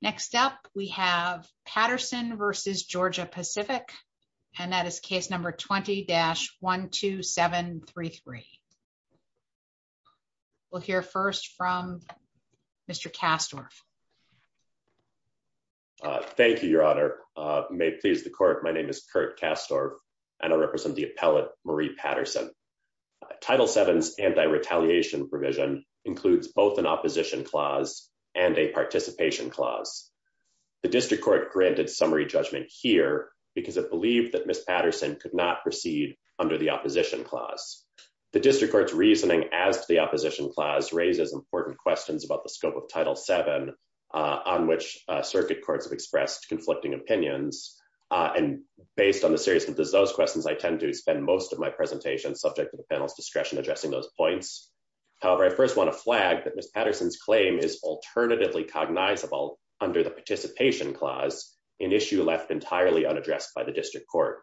Next up, we have Patterson v. Georgia Pacific, and that is case number 20-12733. We'll hear first from Mr. Kastorf. Thank you, Your Honor. May it please the court, my name is Kurt Kastorf, and I represent the appellate Marie Patterson. Title VII's anti-retaliation provision includes both an opposition clause and a participation clause. The district court granted summary judgment here because it believed that Ms. Patterson could not proceed under the opposition clause. The district court's reasoning as to the opposition clause raises important questions about the scope of Title VII on which circuit courts have expressed conflicting opinions, and based on the seriousness of those questions, I tend to spend most of my presentation subject to the panel's discretion addressing those points. However, I first want to flag that Ms. Patterson's claim is alternatively cognizable under the participation clause, an issue left entirely unaddressed by the district court.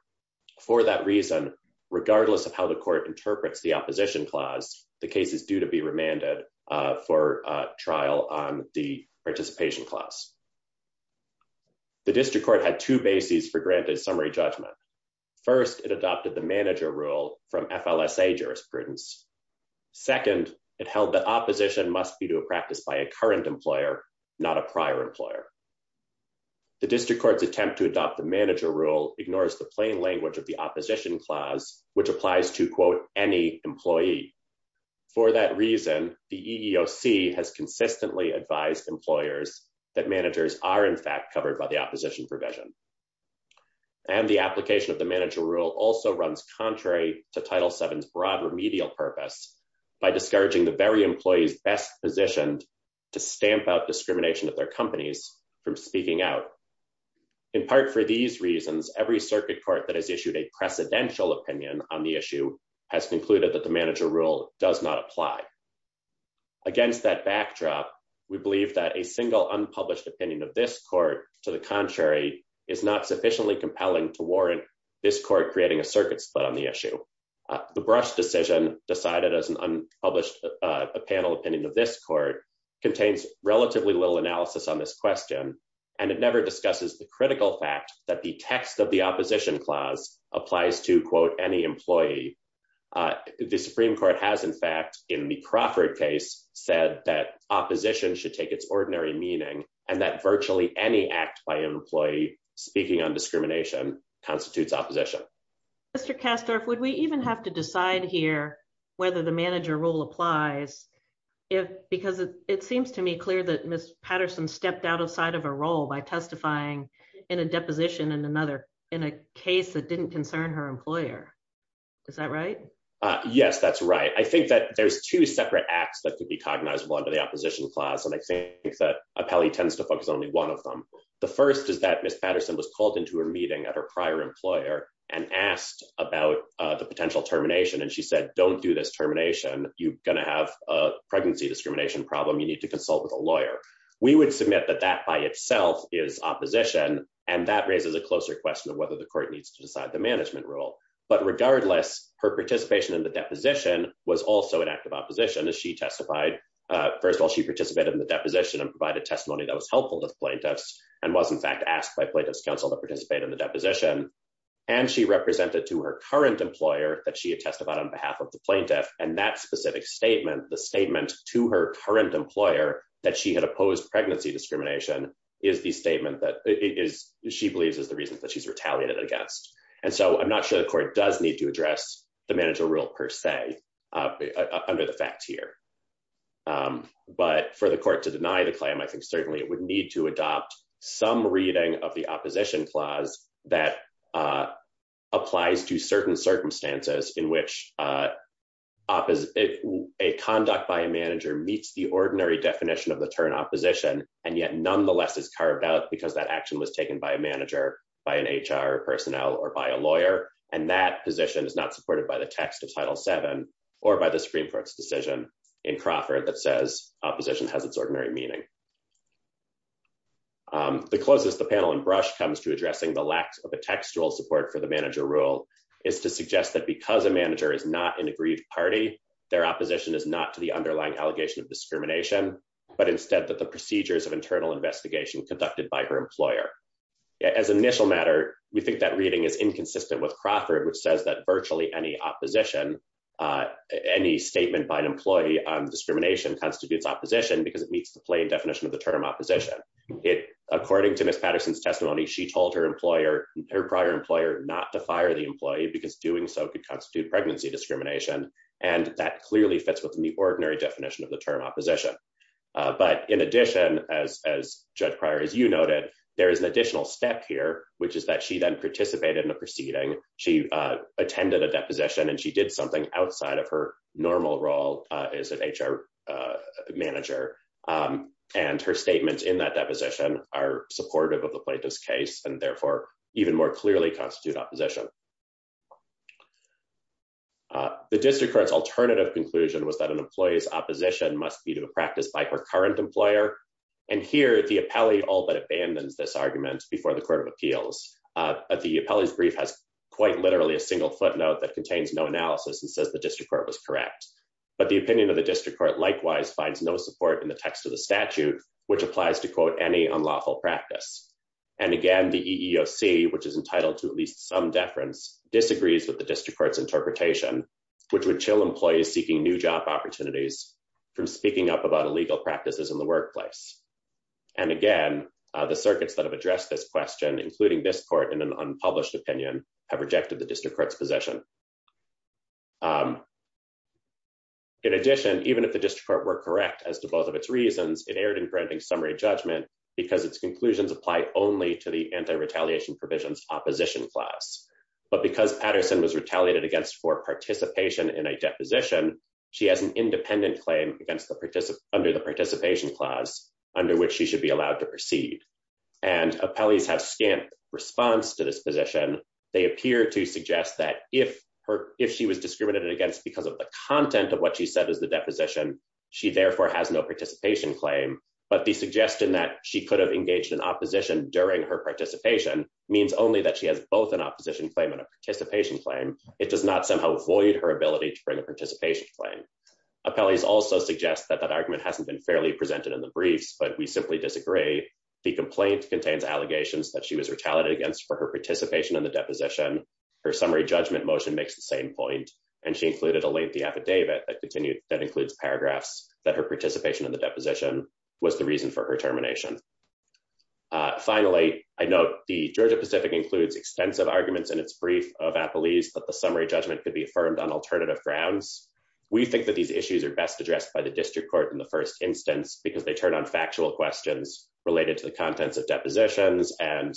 For that reason, regardless of how the court interprets the opposition clause, the case is due to be remanded for trial on the participation clause. The district court had two bases for granted summary judgment. First, it adopted the manager rule from FLSA jurisprudence. Second, it held that opposition must be due to practice by a current employer, not a prior employer. The district court's attempt to adopt the manager rule ignores the plain language of the opposition clause, which applies to, quote, any employee. For that reason, the EEOC has consistently advised employers that managers are, in fact, covered by the opposition provision. And the application of the manager rule also runs contrary to Title VII's broad remedial purpose by discouraging the very employees best positioned to stamp out discrimination of their companies from speaking out. In part for these reasons, every circuit court that has issued a precedential opinion on the issue has concluded that the manager rule does not apply. Against that backdrop, we believe that a single unpublished opinion of this court, to the contrary, is not sufficiently compelling to warrant this court creating a circuit split on the issue. The Brush decision, decided as an unpublished panel opinion of this court, contains relatively little analysis on this question, and it never discusses the critical fact that the text of the opposition clause applies to, quote, any employee. The Supreme Court has, in fact, in the Crawford case, said that opposition should take its ordinary meaning and that virtually any act by an employee speaking on discrimination constitutes opposition. Mr. Kassdorff, would we even have to decide here whether the manager rule applies if, because it seems to me clear that Ms. Patterson stepped outside of her role by testifying in a deposition in another, in a case that didn't concern her employer. Is that right? Yes, that's right. I think that there's two separate acts that could be cognizable under the opposition clause, and I think that appellee tends to focus only one of them. The first is that Ms. Patterson was called into a meeting at her prior employer and asked about the potential termination, and she said, don't do this termination. You're going to have a pregnancy discrimination problem. You need to consult with a lawyer. We would submit that that by itself is opposition, and that raises a closer question of whether the court needs to decide the management rule. But regardless, her participation in the deposition was also an act of opposition as she testified. First of all, she participated in the deposition and provided testimony that was helpful to the plaintiffs and was, in fact, asked by plaintiff's counsel to participate in the deposition, and she represented to her current employer that she had testified on behalf of the plaintiff, and that specific statement, the statement to her current employer that she had opposed pregnancy discrimination, is the statement that she believes is the reason that she's retaliated against. And so I'm not sure the per se under the facts here. But for the court to deny the claim, I think certainly it would need to adopt some reading of the opposition clause that applies to certain circumstances in which a conduct by a manager meets the ordinary definition of the term opposition and yet nonetheless is carved out because that action was taken by a manager, by an HR personnel, or by a lawyer, and that position is not supported by the text of Title VII or by the Supreme Court's decision in Crawford that says opposition has its ordinary meaning. The closest the panel and Brush comes to addressing the lack of a textual support for the manager rule is to suggest that because a manager is not an agreed party, their opposition is not to the underlying allegation of discrimination, but instead that the procedures of internal investigation conducted by her employer. As an initial matter, we think that reading is inconsistent with Crawford, which says that virtually any opposition, any statement by an employee on discrimination constitutes opposition because it meets the plain definition of the term opposition. According to Ms. Patterson's testimony, she told her employer, her prior employer, not to fire the employee because doing so could constitute pregnancy discrimination. And that clearly fits within the ordinary definition of the term opposition. But in addition, as Judge Pryor, as you noted, there is an additional step here, which is that she then participated in a proceeding. She attended a deposition and she did something outside of her normal role as an HR manager. And her statements in that deposition are supportive of the plaintiff's case and therefore, even more clearly constitute opposition. The district court's alternative conclusion was that an employee's opposition must be to a practice by her current employer. And here, the appellee all but abandons this appeal. The appellee's brief has quite literally a single footnote that contains no analysis and says the district court was correct. But the opinion of the district court likewise finds no support in the text of the statute, which applies to quote any unlawful practice. And again, the EEOC, which is entitled to at least some deference, disagrees with the district court's interpretation, which would chill employees seeking new job opportunities from speaking up about illegal practices in the workplace. And again, the circuits that have addressed this question, including this court in an unpublished opinion, have rejected the district court's position. In addition, even if the district court were correct as to both of its reasons, it erred in granting summary judgment because its conclusions apply only to the anti-retaliation provisions opposition class. But because Patterson was retaliated against for participation in a deposition, she has an independent claim under the participation clause under which she should be allowed to proceed. And appellees have scant response to this position. They appear to suggest that if she was discriminated against because of the content of what she said is the deposition, she therefore has no participation claim. But the suggestion that she could have engaged in opposition during her participation means only that she has both an opposition claim and a participation claim. It does not somehow void her ability to bring a participation claim. Appellees also suggest that that argument hasn't been fairly presented in the briefs, but we simply disagree. The complaint contains allegations that she was retaliated against for her participation in the deposition. Her summary judgment motion makes the same point. And she included a lengthy affidavit that continued that includes paragraphs that her participation in the deposition was the reason for her termination. Finally, I note the Georgia-Pacific includes extensive arguments in its brief of appellees that the summary judgment could be affirmed on alternative grounds. We think that these issues are best addressed by the district court in the first instance, because they turn on factual questions related to the contents of depositions and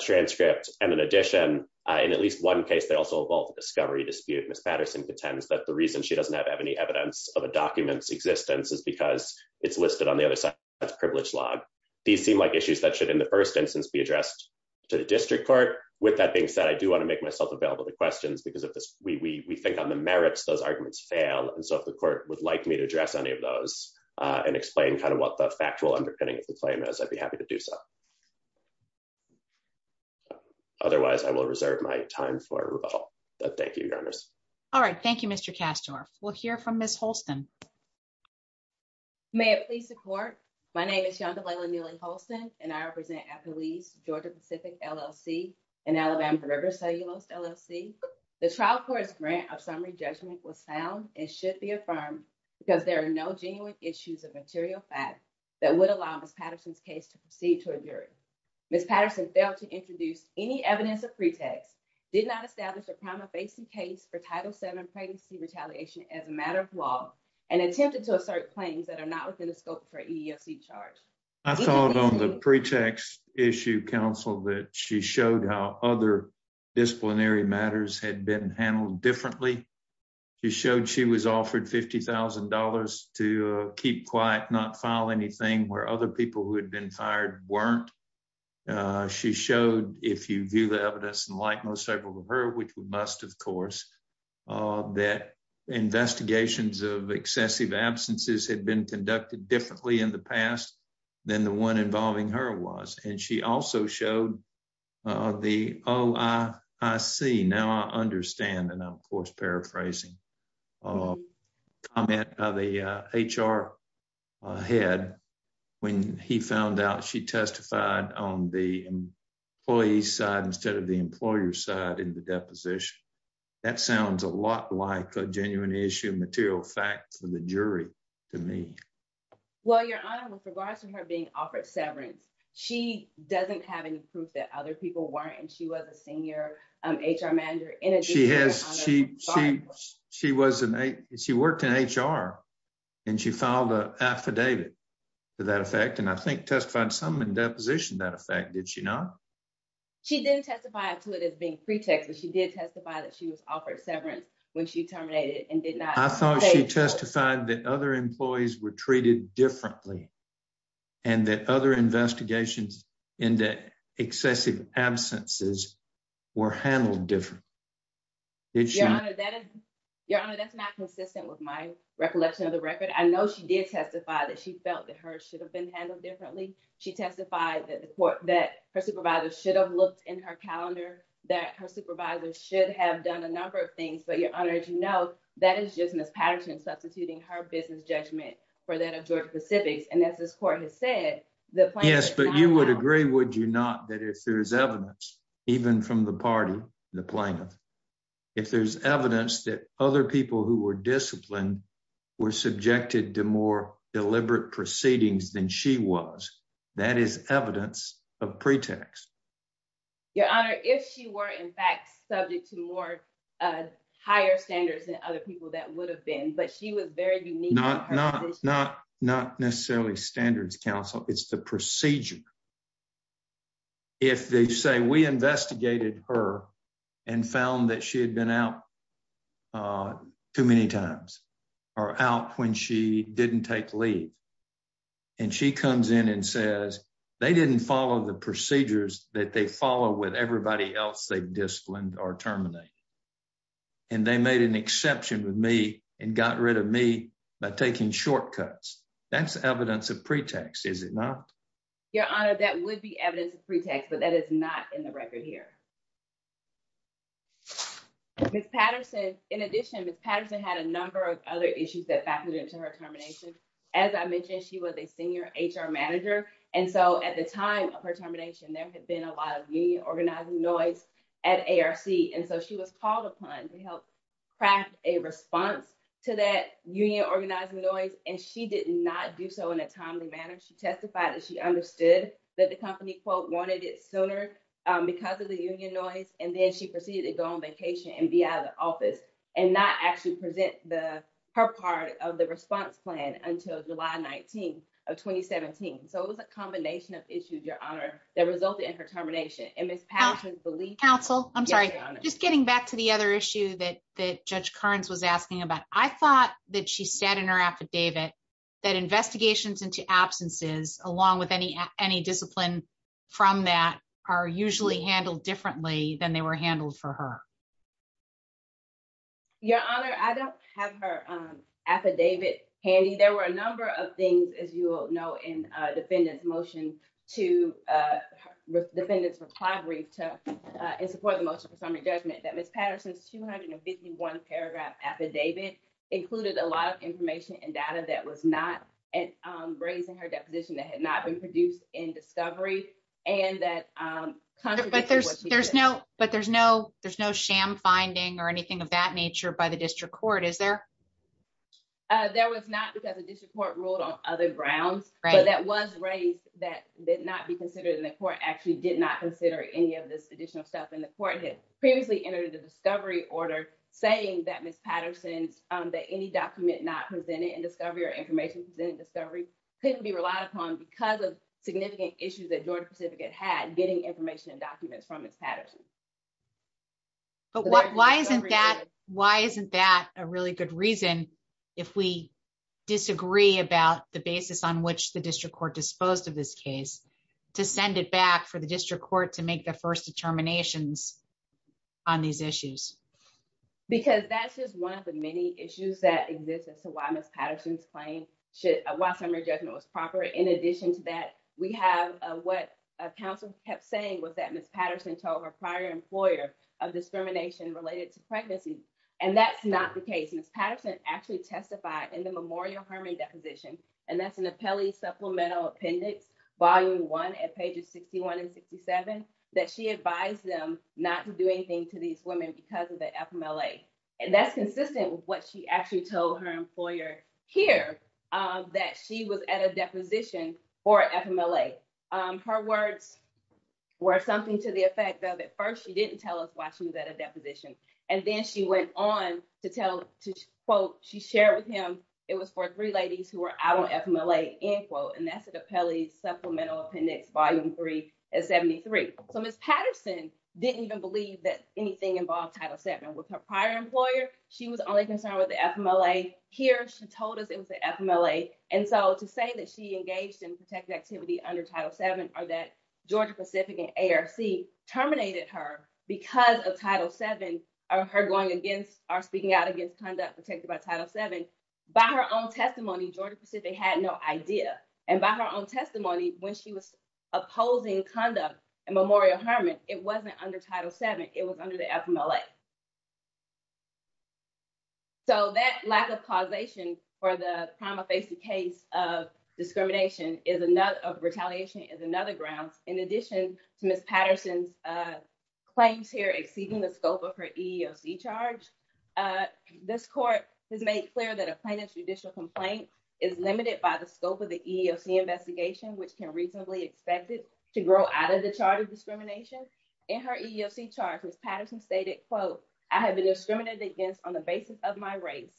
transcripts. And in addition, in at least one case, they also involve the discovery dispute. Ms. Patterson contends that the reason she doesn't have any evidence of a document's existence is because it's listed on the other side of its privilege log. These seem like issues that should, in the first instance, be addressed to the district court. With that being said, I do want to make myself available to questions, because we think on the merits, those arguments fail. And so if the court would like me to address any of those and explain kind of what the factual underpinning of the claim is, I'd be happy to do so. Otherwise, I will reserve my time for rebuttal. Thank you, Your Honors. All right. Thank you, Mr. Kastorf. We'll hear from Ms. Holston. May it please the court. My name is Yonda Layla Neely Holston, and I represent Appellees, Georgia-Pacific LLC, and Alabama River Cellulose LLC. The trial court's grant of summary judgment was sound and should be affirmed because there are no genuine issues of material fact that would allow Ms. Patterson's case to proceed to a jury. Ms. Patterson failed to introduce any evidence of pretext, did not establish a crime-of-basin case for Title VII pregnancy retaliation as a matter of law, and attempted to assert claims that are not within the scope for EEOC charge. I thought on the pretext issue, counsel, that she showed how other disciplinary matters had been handled differently. She showed she was offered $50,000 to keep quiet, not file anything where other people who had been fired weren't. She showed, if you view the evidence, and like most several of her, which we must, of course, that investigations of excessive absences had been conducted differently in the past than the one involving her was. And she also showed the OIC, now I understand, and I'm of course paraphrasing, comment by the HR head when he found out she testified on the employee's side instead of the employer's side in the deposition. That sounds a lot like a genuine issue of material fact for the jury to me. Well, Your Honor, with other people weren't, and she was a senior HR manager. She worked in HR, and she filed an affidavit to that effect, and I think testified some in deposition to that effect, did she not? She didn't testify to it as being pretext, but she did testify that she was offered severance when she terminated and did not- I thought she testified that other employees were treated differently and that other investigations into excessive absences were handled differently. Your Honor, that's not consistent with my recollection of the record. I know she did testify that she felt that hers should have been handled differently. She testified that her supervisors should have looked in her calendar, that her supervisors should have done a number of things, but Your Honor, as you know, that is just Ms. Patterson substituting her business judgment for that of Georgia-Pacific's, and as this court has said, the plaintiff- Yes, but you would agree, would you not, that if there is evidence, even from the party, the plaintiff, if there's evidence that other people who were disciplined were subjected to more deliberate proceedings than she was, that is evidence of pretext. Your Honor, if she were in fact subject to more higher standards than other people, that would have been, but she was very unique- Not necessarily standards counsel, it's the procedure. If they say we investigated her and found that she had been out too many times, or out when she didn't take leave, and she comes in and says they didn't follow the procedures that they follow with everybody else they disciplined or terminated, and they made an exception with me and got rid of me by taking shortcuts, that's evidence of pretext, is it not? Your Honor, that would be evidence of pretext, but that is not in the record here. Ms. Patterson, in addition, Ms. Patterson had a number of other issues that factored into her termination. As I mentioned, she was a senior HR manager, and so at the time of her termination, there had been a lot of union organizing noise at ARC, and so she was called upon to help craft a response to that union organizing noise, and she did not do so in a timely manner. She testified that she understood that the company, quote, wanted it sooner because of the union noise, and then she proceeded to go on vacation and be out of the office and not actually present her part of the response plan until July 19 of 2017. So it was a combination of issues, Your Honor, that resulted in her termination, and Ms. Patterson- Counsel, I'm sorry, just getting back to the other issue that Judge Kearns was asking about, I thought that she said in her affidavit that investigations into absences, along with any discipline from that, are usually handled differently than they were handled for her. Your Honor, I don't have her affidavit handy. There were a number of things, as you will know, in the defendant's motion, to the defendant's recovery to support the motion for summary judgment that Ms. Patterson's 251 paragraph affidavit included a lot of information and data that was not raised in her deposition that had not been produced in discovery and that contradicted what she said. But there's no sham finding or anything of that nature by the district court, is there? There was not because the district court ruled on other grounds, but that was raised that did not be considered and the court actually did not consider any of this additional stuff, and the court had previously entered a discovery order saying that Ms. Patterson's, that any document not presented in discovery or information presented in discovery, couldn't be relied upon because of significant issues that Georgia Pacific had getting information and documents from Ms. Patterson. But why isn't that, why isn't that a really good reason if we disagree about the basis on which the district court disposed of this case to send it back for the district court to make the first determinations on these issues? Because that's just one of the many issues that exists as to why Ms. Patterson's claim should, why summary judgment was proper. In addition to that, we have what counsel kept saying was that Ms. Patterson told her prior employer of discrimination related to pregnancy, and that's not the case. Ms. Patterson actually testified in the Memorial Hermann Deposition, and that's an appellee supplemental appendix volume one at pages 61 and 67, that she advised them not to do anything to these women because of the FMLA. And that's consistent with what she actually told her employer here, that she was at a deposition for FMLA. Her words were something to the effect of, at first she didn't tell us why she was at a deposition, and then she went on to tell, to quote, she shared with him it was for three ladies who were out on FMLA, end quote, and that's an appellee supplemental appendix volume three at 73. So Ms. Patterson didn't even believe that anything involved Title VII. With her prior employer, she was only concerned with the FMLA. Here she told us it was the FMLA, and so to say that she engaged in protected activity under Title VII or that Georgia Pacific and ARC terminated her because of Title VII, or her going against, or speaking out against conduct protected by Title VII, by her own testimony, Georgia Pacific had no idea. And by her own testimony, when she was opposing conduct in Memorial Hermann, it wasn't under Title VII, it was under the FMLA. So that lack of causation for the prima facie case of discrimination is another, of retaliation, is another grounds. In addition to Ms. Patterson's claims here exceeding the scope of her EEOC charge, this court has made clear that a plaintiff's judicial complaint is limited by the scope of the EEOC investigation, which can reasonably expect it to grow out of the chart of discrimination. In her EEOC charge, Ms. Patterson stated, quote, that the plaintiff's I have been discriminated against on the basis of my race,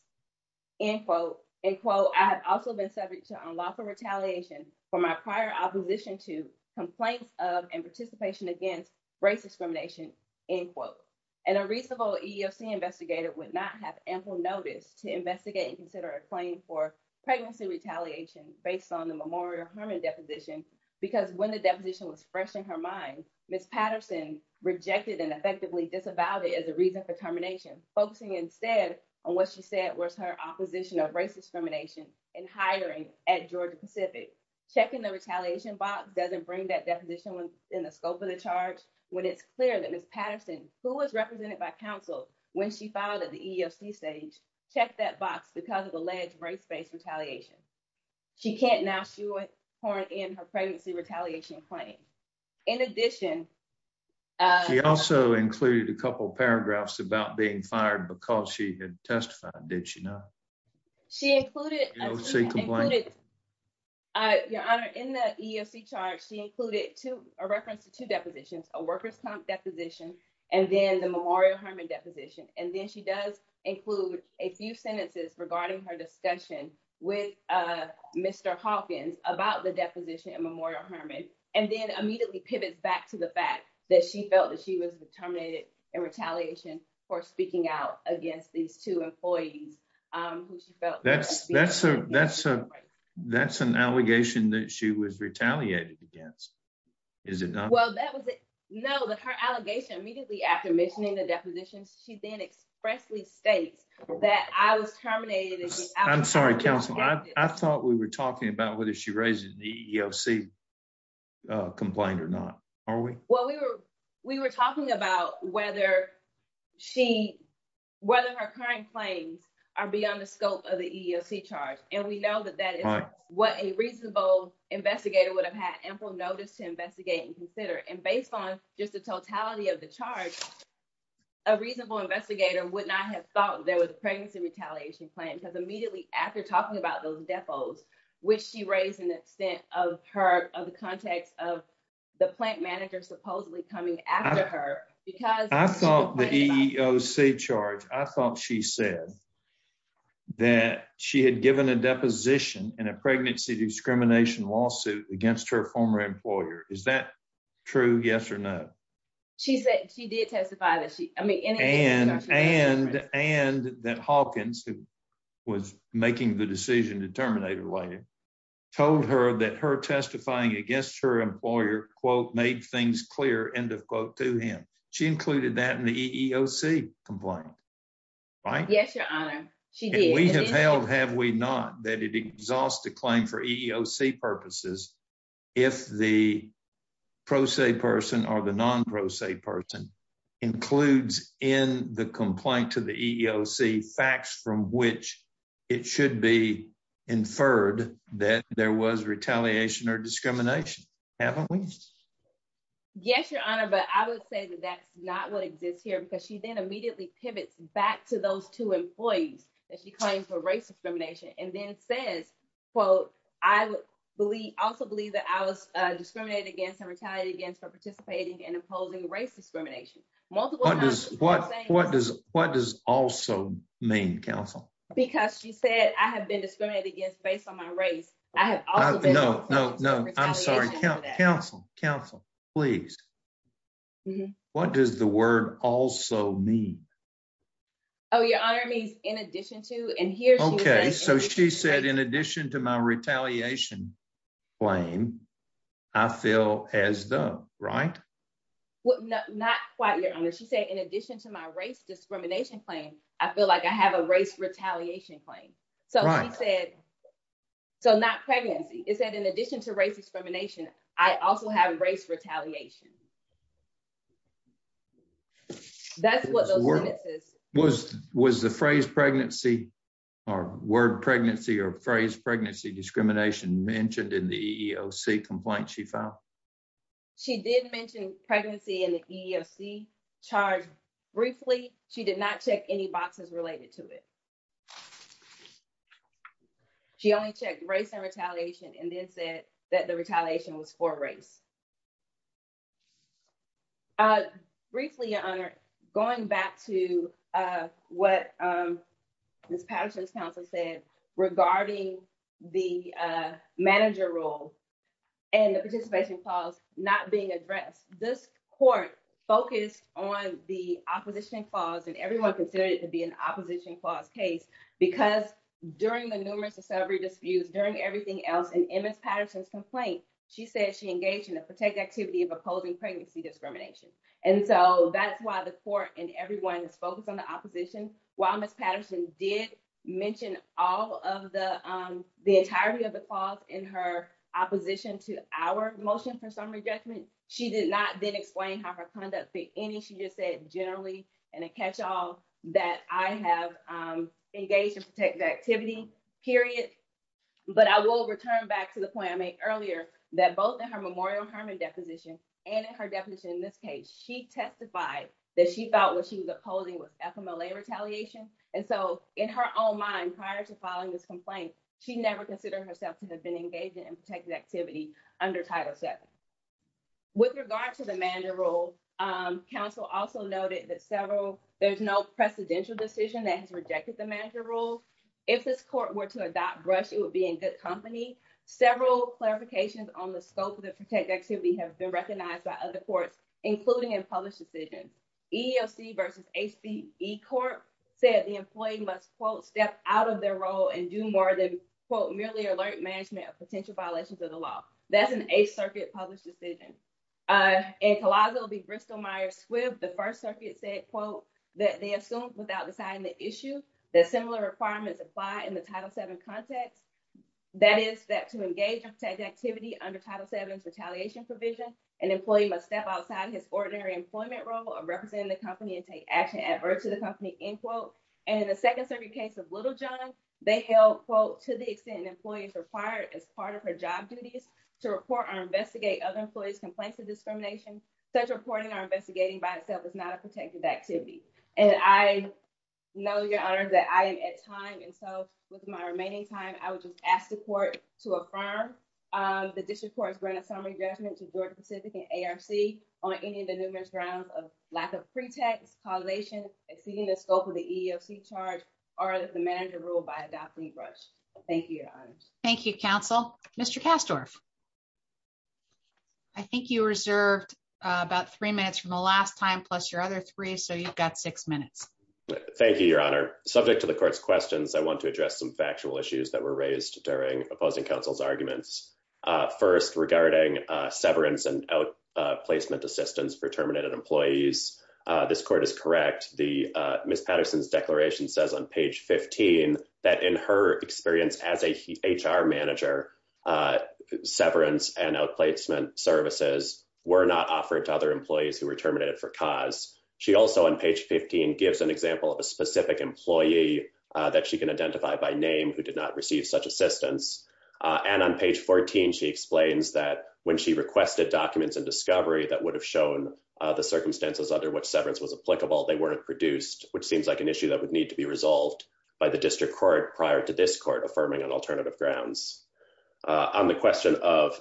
end quote, end quote, I have also been subject to unlawful retaliation for my prior opposition to complaints of and participation against race discrimination, end quote. And a reasonable EEOC investigator would not have ample notice to investigate and consider a claim for pregnancy retaliation based on the Memorial Hermann deposition, because when the deposition was fresh in her mind, Ms. Patterson rejected and effectively disavowed it as a reason for termination, focusing instead on what she said was her opposition of race discrimination and hiring at Georgia Pacific. Checking the retaliation box doesn't bring that deposition within the scope of the charge, when it's clear that Ms. Patterson, who was represented by counsel when she filed at the EEOC stage, checked that box because of alleged race-based retaliation. She can't now pour in her pregnancy included a couple paragraphs about being fired because she had testified, did she not? She included, your honor, in the EEOC charge, she included two, a reference to two depositions, a workers' comp deposition, and then the Memorial Hermann deposition. And then she does include a few sentences regarding her discussion with Mr. Hawkins about the deposition in Memorial Hermann, and then immediately pivots back to the fact that she felt that she was terminated in retaliation for speaking out against these two employees. That's an allegation that she was retaliated against, is it not? Well, that was it. No, that her allegation immediately after mentioning the depositions, she then expressly states that I was terminated. I'm sorry, counsel. I thought we were talking about whether she raised it in the EEOC complaint or not, are we? Well, we were talking about whether her current claims are beyond the scope of the EEOC charge. And we know that that is what a reasonable investigator would have had ample notice to investigate and consider. And based on just the totality of the charge, a reasonable investigator would not have thought there was a pregnancy retaliation plan because after talking about those depots, which she raised in the context of the plant manager supposedly coming after her. I thought the EEOC charge, I thought she said that she had given a deposition in a pregnancy discrimination lawsuit against her former employer. Is that true, yes or no? She did testify that she... And that Hawkins, who was making the decision to terminate her later, told her that her testifying against her employer, quote, made things clear, end of quote, to him. She included that in the EEOC complaint. Right? Yes, your honor. She did. And we have held, have we not, that it exhausts the claim for EEOC purposes if the pro se person or the non pro se person includes in the complaint to the EEOC facts from which it should be inferred that there was retaliation or discrimination, haven't we? Yes, your honor. But I would say that that's not what exists here because she then immediately pivots back to those two employees that she claims for race discrimination and then says, quote, I also believe that I was discriminated against and retaliated against for participating and imposing race discrimination. Multiple times... What does also mean, counsel? Because she said, I have been discriminated against based on my race. I have also been... No, no, no. I'm sorry. Counsel, counsel, please. What does the word also mean? Oh, your honor, it means in addition to, and here's... So she said, in addition to my retaliation claim, I feel as though, right? Not quite, your honor. She said, in addition to my race discrimination claim, I feel like I have a race retaliation claim. So she said, so not pregnancy. It said, in addition to race discrimination, I also have race retaliation. That's what those sentences... Was the phrase pregnancy or word pregnancy or phrase pregnancy discrimination mentioned in the EEOC complaint she filed? She did mention pregnancy in the EEOC charge briefly. She did not check any boxes related to it. She only checked race and retaliation and then said that the retaliation was for race. Briefly, your honor, going back to what Ms. Patterson's counsel said regarding the manager role and the participation clause not being addressed, this court focused on the opposition clause and everyone considered it to be an opposition clause case because during the numerous discovery disputes, during everything else in Ms. Patterson's complaint, she said she engaged in a protected activity of opposing pregnancy discrimination. And so that's why the court and everyone is focused on the opposition. While Ms. Patterson did mention all of the entirety of the clause in her opposition to our motion for summary judgment, she did not then explain how her conduct fit any. She just said, generally, in a catch-all, that I have engaged in protected activity, period. But I will return back to the point I made earlier that both in her Memorial Hermann deposition and in her definition in this case, she testified that she felt what she was opposing was FMLA retaliation. And so in her own mind, prior to filing this complaint, she never considered herself to have been engaged in protected activity under Title VII. With regard to the manager role, counsel also noted that several, there's no precedential decision that has rejected the manager role. If this court were to adopt Brush, it would be in good company. Several clarifications on the scope of the protected activity have been recognized by other courts, including in published decisions. EEOC versus HBE court said the employee must, quote, step out of their role and do more than, quote, merely alert management of potential violations of the law. That's an Eighth Circuit published decision. In Collazo v. Bristol-Myers-Squibb, the First Circuit said, quote, that they assumed without issue that similar requirements apply in the Title VII context. That is that to engage in protected activity under Title VII's retaliation provision, an employee must step outside his ordinary employment role of representing the company and take action adverse to the company, end quote. And in the Second Circuit case of Littlejohn, they held, quote, to the extent an employee is required as part of her job duties to report or investigate other employees' complaints of discrimination, such reporting or investigating by itself is not a protected activity. And I know, Your Honors, that I am at time. And so with my remaining time, I would just ask the court to affirm that this report is granted summary judgment to Georgia-Pacific and ARC on any of the numerous grounds of lack of pretext, collation, exceeding the scope of the EEOC charge, or that the manager ruled by adopting brush. Thank you, Your Honors. Thank you, counsel. Mr. Kastorf. I think you reserved about three minutes from the last time, plus your other three. So you've got six minutes. Thank you, Your Honor. Subject to the court's questions, I want to address some factual issues that were raised during opposing counsel's arguments. First, regarding severance and outplacement assistance for terminated employees. This court is correct. Ms. Patterson's page 15, that in her experience as a HR manager, severance and outplacement services were not offered to other employees who were terminated for cause. She also, on page 15, gives an example of a specific employee that she can identify by name who did not receive such assistance. And on page 14, she explains that when she requested documents and discovery that would have shown the circumstances under which severance was applicable, they weren't produced, which seems like an issue that would need to be resolved by the district court prior to this court affirming on alternative grounds. On the question of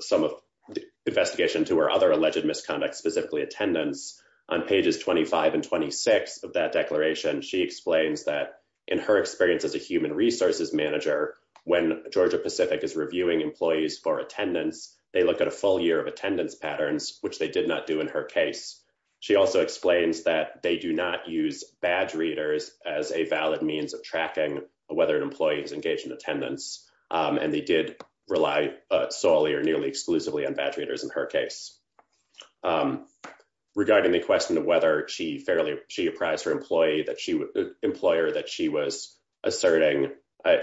some of the investigation to her other alleged misconduct, specifically attendance, on pages 25 and 26 of that declaration, she explains that in her experience as a human resources manager, when Georgia Pacific is reviewing employees for attendance, they look at a full year of attendance patterns, which they did not do in her case. She also explains that they do not use badge readers as a valid means of tracking whether an employee is engaged in attendance, and they did rely solely or nearly exclusively on badge readers in her case. Regarding the question of whether she apprised her employer that she was asserting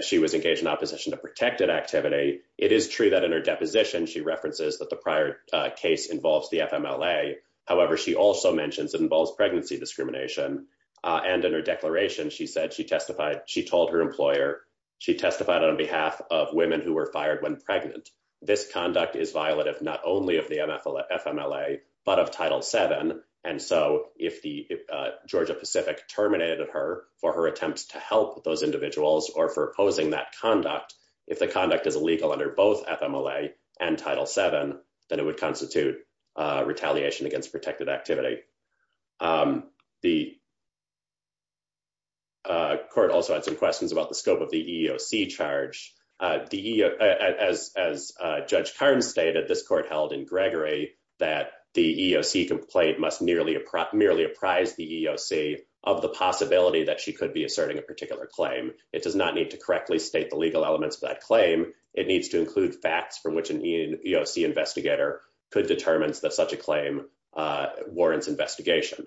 she was engaged in opposition to protected activity, it is true that in her also mentions it involves pregnancy discrimination. And in her declaration, she said she testified, she told her employer, she testified on behalf of women who were fired when pregnant. This conduct is violative not only of the FMLA, but of Title VII. And so if the Georgia Pacific terminated her for her attempts to help those individuals or for opposing that conduct, if the conduct is illegal under both FMLA and Title VII, then it would constitute retaliation against protected activity. The court also had some questions about the scope of the EEOC charge. As Judge Carnes stated, this court held in Gregory that the EEOC complaint must merely apprise the EEOC of the possibility that she could be asserting a particular claim. It does not need to correctly state the legal elements of that claim. It needs to include facts from which an EEOC investigator could determine that such a claim warrants investigation.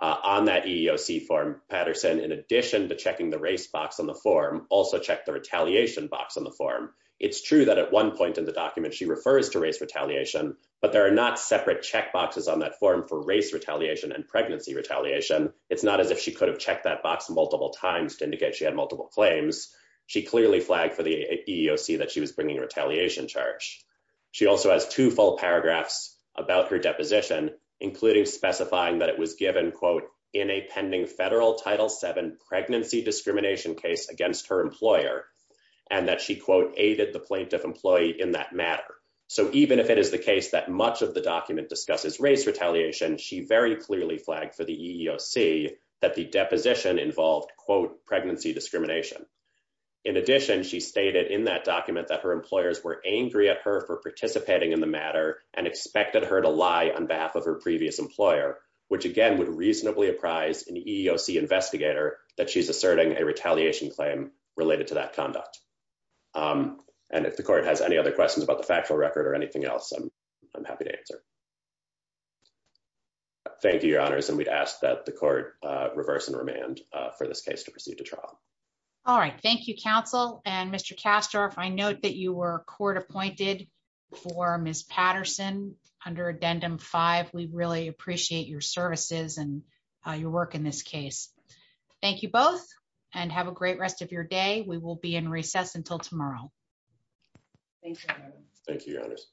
On that EEOC form, Patterson, in addition to checking the race box on the form, also checked the retaliation box on the form. It's true that at one point in the document, she refers to race retaliation, but there are not separate check boxes on that form for race retaliation and pregnancy retaliation. It's not as if she could have checked that box multiple times to indicate she had multiple claims. She clearly flagged for the EEOC that she was bringing a retaliation charge. She also has two full paragraphs about her deposition, including specifying that it was given, quote, in a pending federal Title VII pregnancy discrimination case against her employer, and that she, quote, aided the plaintiff employee in that matter. So even if it is the case that much of the document discusses race retaliation, she very clearly flagged for the EEOC that the deposition involved, quote, pregnancy discrimination. In addition, she stated in that document that her employers were angry at her for participating in the matter and expected her to lie on behalf of her previous employer, which again would reasonably apprise an EEOC investigator that she's asserting a retaliation claim related to that conduct. And if the court has any other questions about the factual record or anything else, I'm happy to answer. Thank you, Your Honors. And we'd ask that the court reverse and remand for this case to proceed to trial. All right. Thank you, counsel. And Mr. Kastorf, I note that you were court appointed for Ms. Patterson under Addendum 5. We really appreciate your services and your work in this case. Thank you both and have a great rest of tomorrow. Thank you. Thank you, Your Honors.